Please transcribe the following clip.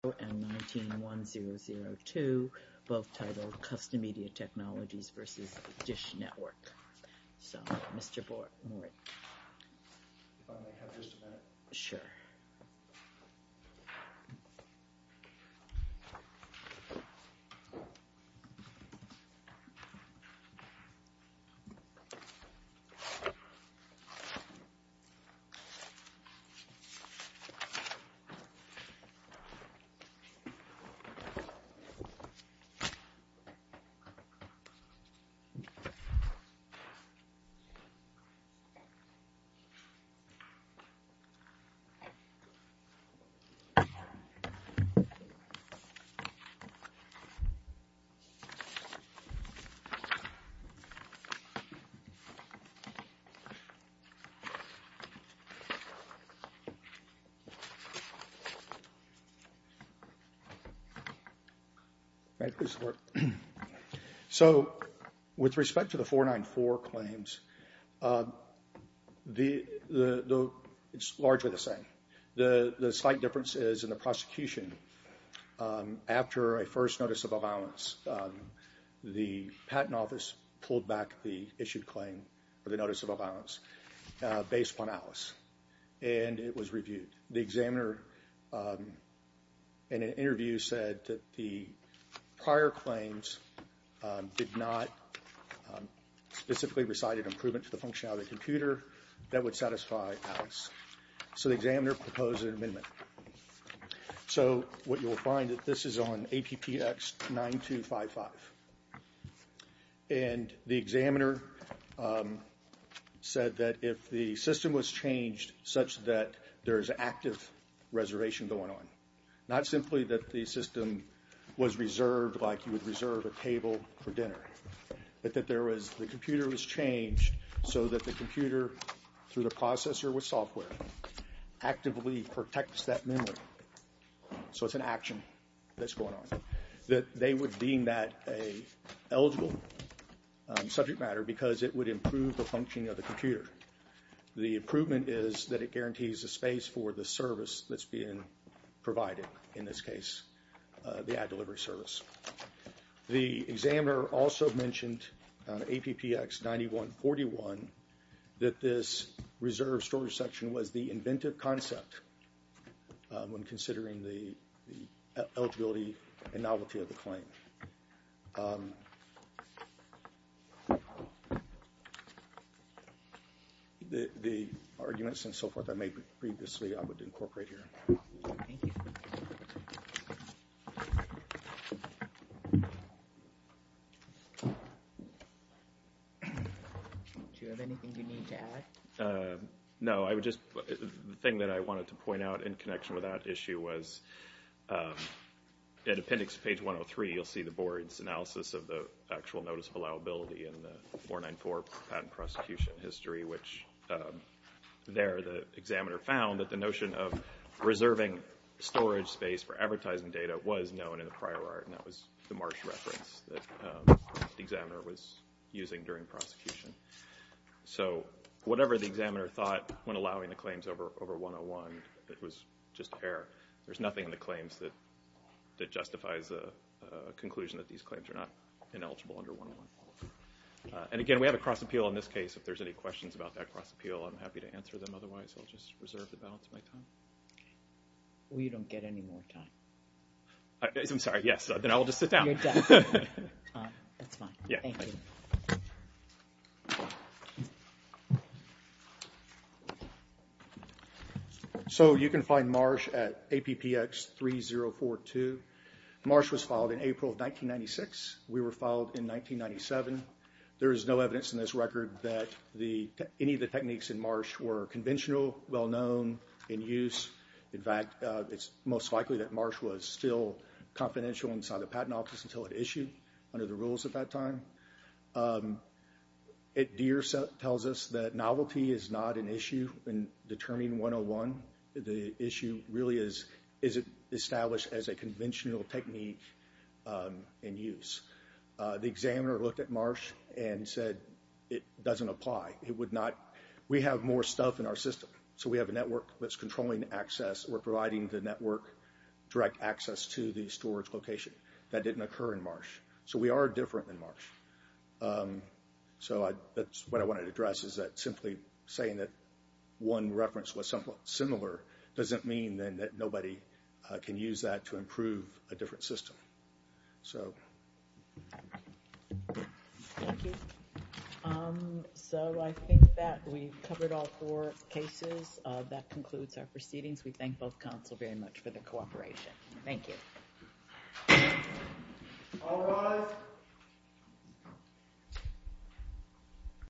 and 19-1002, both titled Custom Media Technologies v. DISH Network. So, Mr. Morey. If I may have just a minute? Sure. Thank you. Thank you. So, with respect to the 494 claims. The, the, the, it's largely the same. The slight difference is in the prosecution. After a first notice of violence. The patent office pulled back the issued claim for the notice of violence based on Alice, and it was reviewed the examiner. In an interview said that the prior claims did not specifically recited improvement to the functionality of the computer that would satisfy Alice. So the examiner proposed an amendment. So, what you'll find that this is on a PPX 9255. And the examiner said that if the system was changed such that there is active reservation going on. Not simply that the system was reserved like you would reserve a table for dinner. But that there was the computer was changed so that the computer through the processor with software. Actively protects that memory. So it's an action that's going on that they would be that a eligible subject matter because it would improve the functioning of the computer. The improvement is that it guarantees a space for the service that's being provided. In this case, the ad delivery service. The examiner also mentioned on a PPX 9141 that this reserve storage section was the inventive concept. When considering the eligibility and novelty of the claim. The arguments and so forth I made previously I would incorporate here. Thank you. Do you have anything you need to add? No, I would just the thing that I wanted to point out in connection with that issue was. At appendix page 103 you'll see the board's analysis of the actual notice of allowability in the 494 patent prosecution history. Which there the examiner found that the notion of reserving storage space for advertising data was known in the prior art. And that was the March reference that the examiner was using during prosecution. So whatever the examiner thought when allowing the claims over over 101 that was just air. There's nothing in the claims that justifies a conclusion that these claims are not ineligible under 101. And again, we have a cross appeal in this case. If there's any questions about that cross appeal, I'm happy to answer them. Otherwise, I'll just reserve the balance of my time. We don't get any more time. I'm sorry. Yes. Then I'll just sit down. You're done. That's fine. Thank you. So you can find Marsh at APPX 3042. Marsh was filed in April of 1996. We were filed in 1997. There is no evidence in this record that any of the techniques in Marsh were conventional, well known, in use. In fact, it's most likely that Marsh was still confidential inside the patent office until it issued under the rules at that time. Deere tells us that novelty is not an issue in determining 101. The issue really is, is it established as a conventional technique in use? The examiner looked at Marsh and said it doesn't apply. It would not. We have more stuff in our system. So we have a network that's controlling access. We're providing the network direct access to the storage location. So we are different than Marsh. So that's what I wanted to address is that simply saying that one reference was somewhat similar doesn't mean then that nobody can use that to improve a different system. Thank you. So I think that we've covered all four cases. That concludes our proceedings. We thank both counsel very much for the cooperation. Thank you. All rise. Thank you.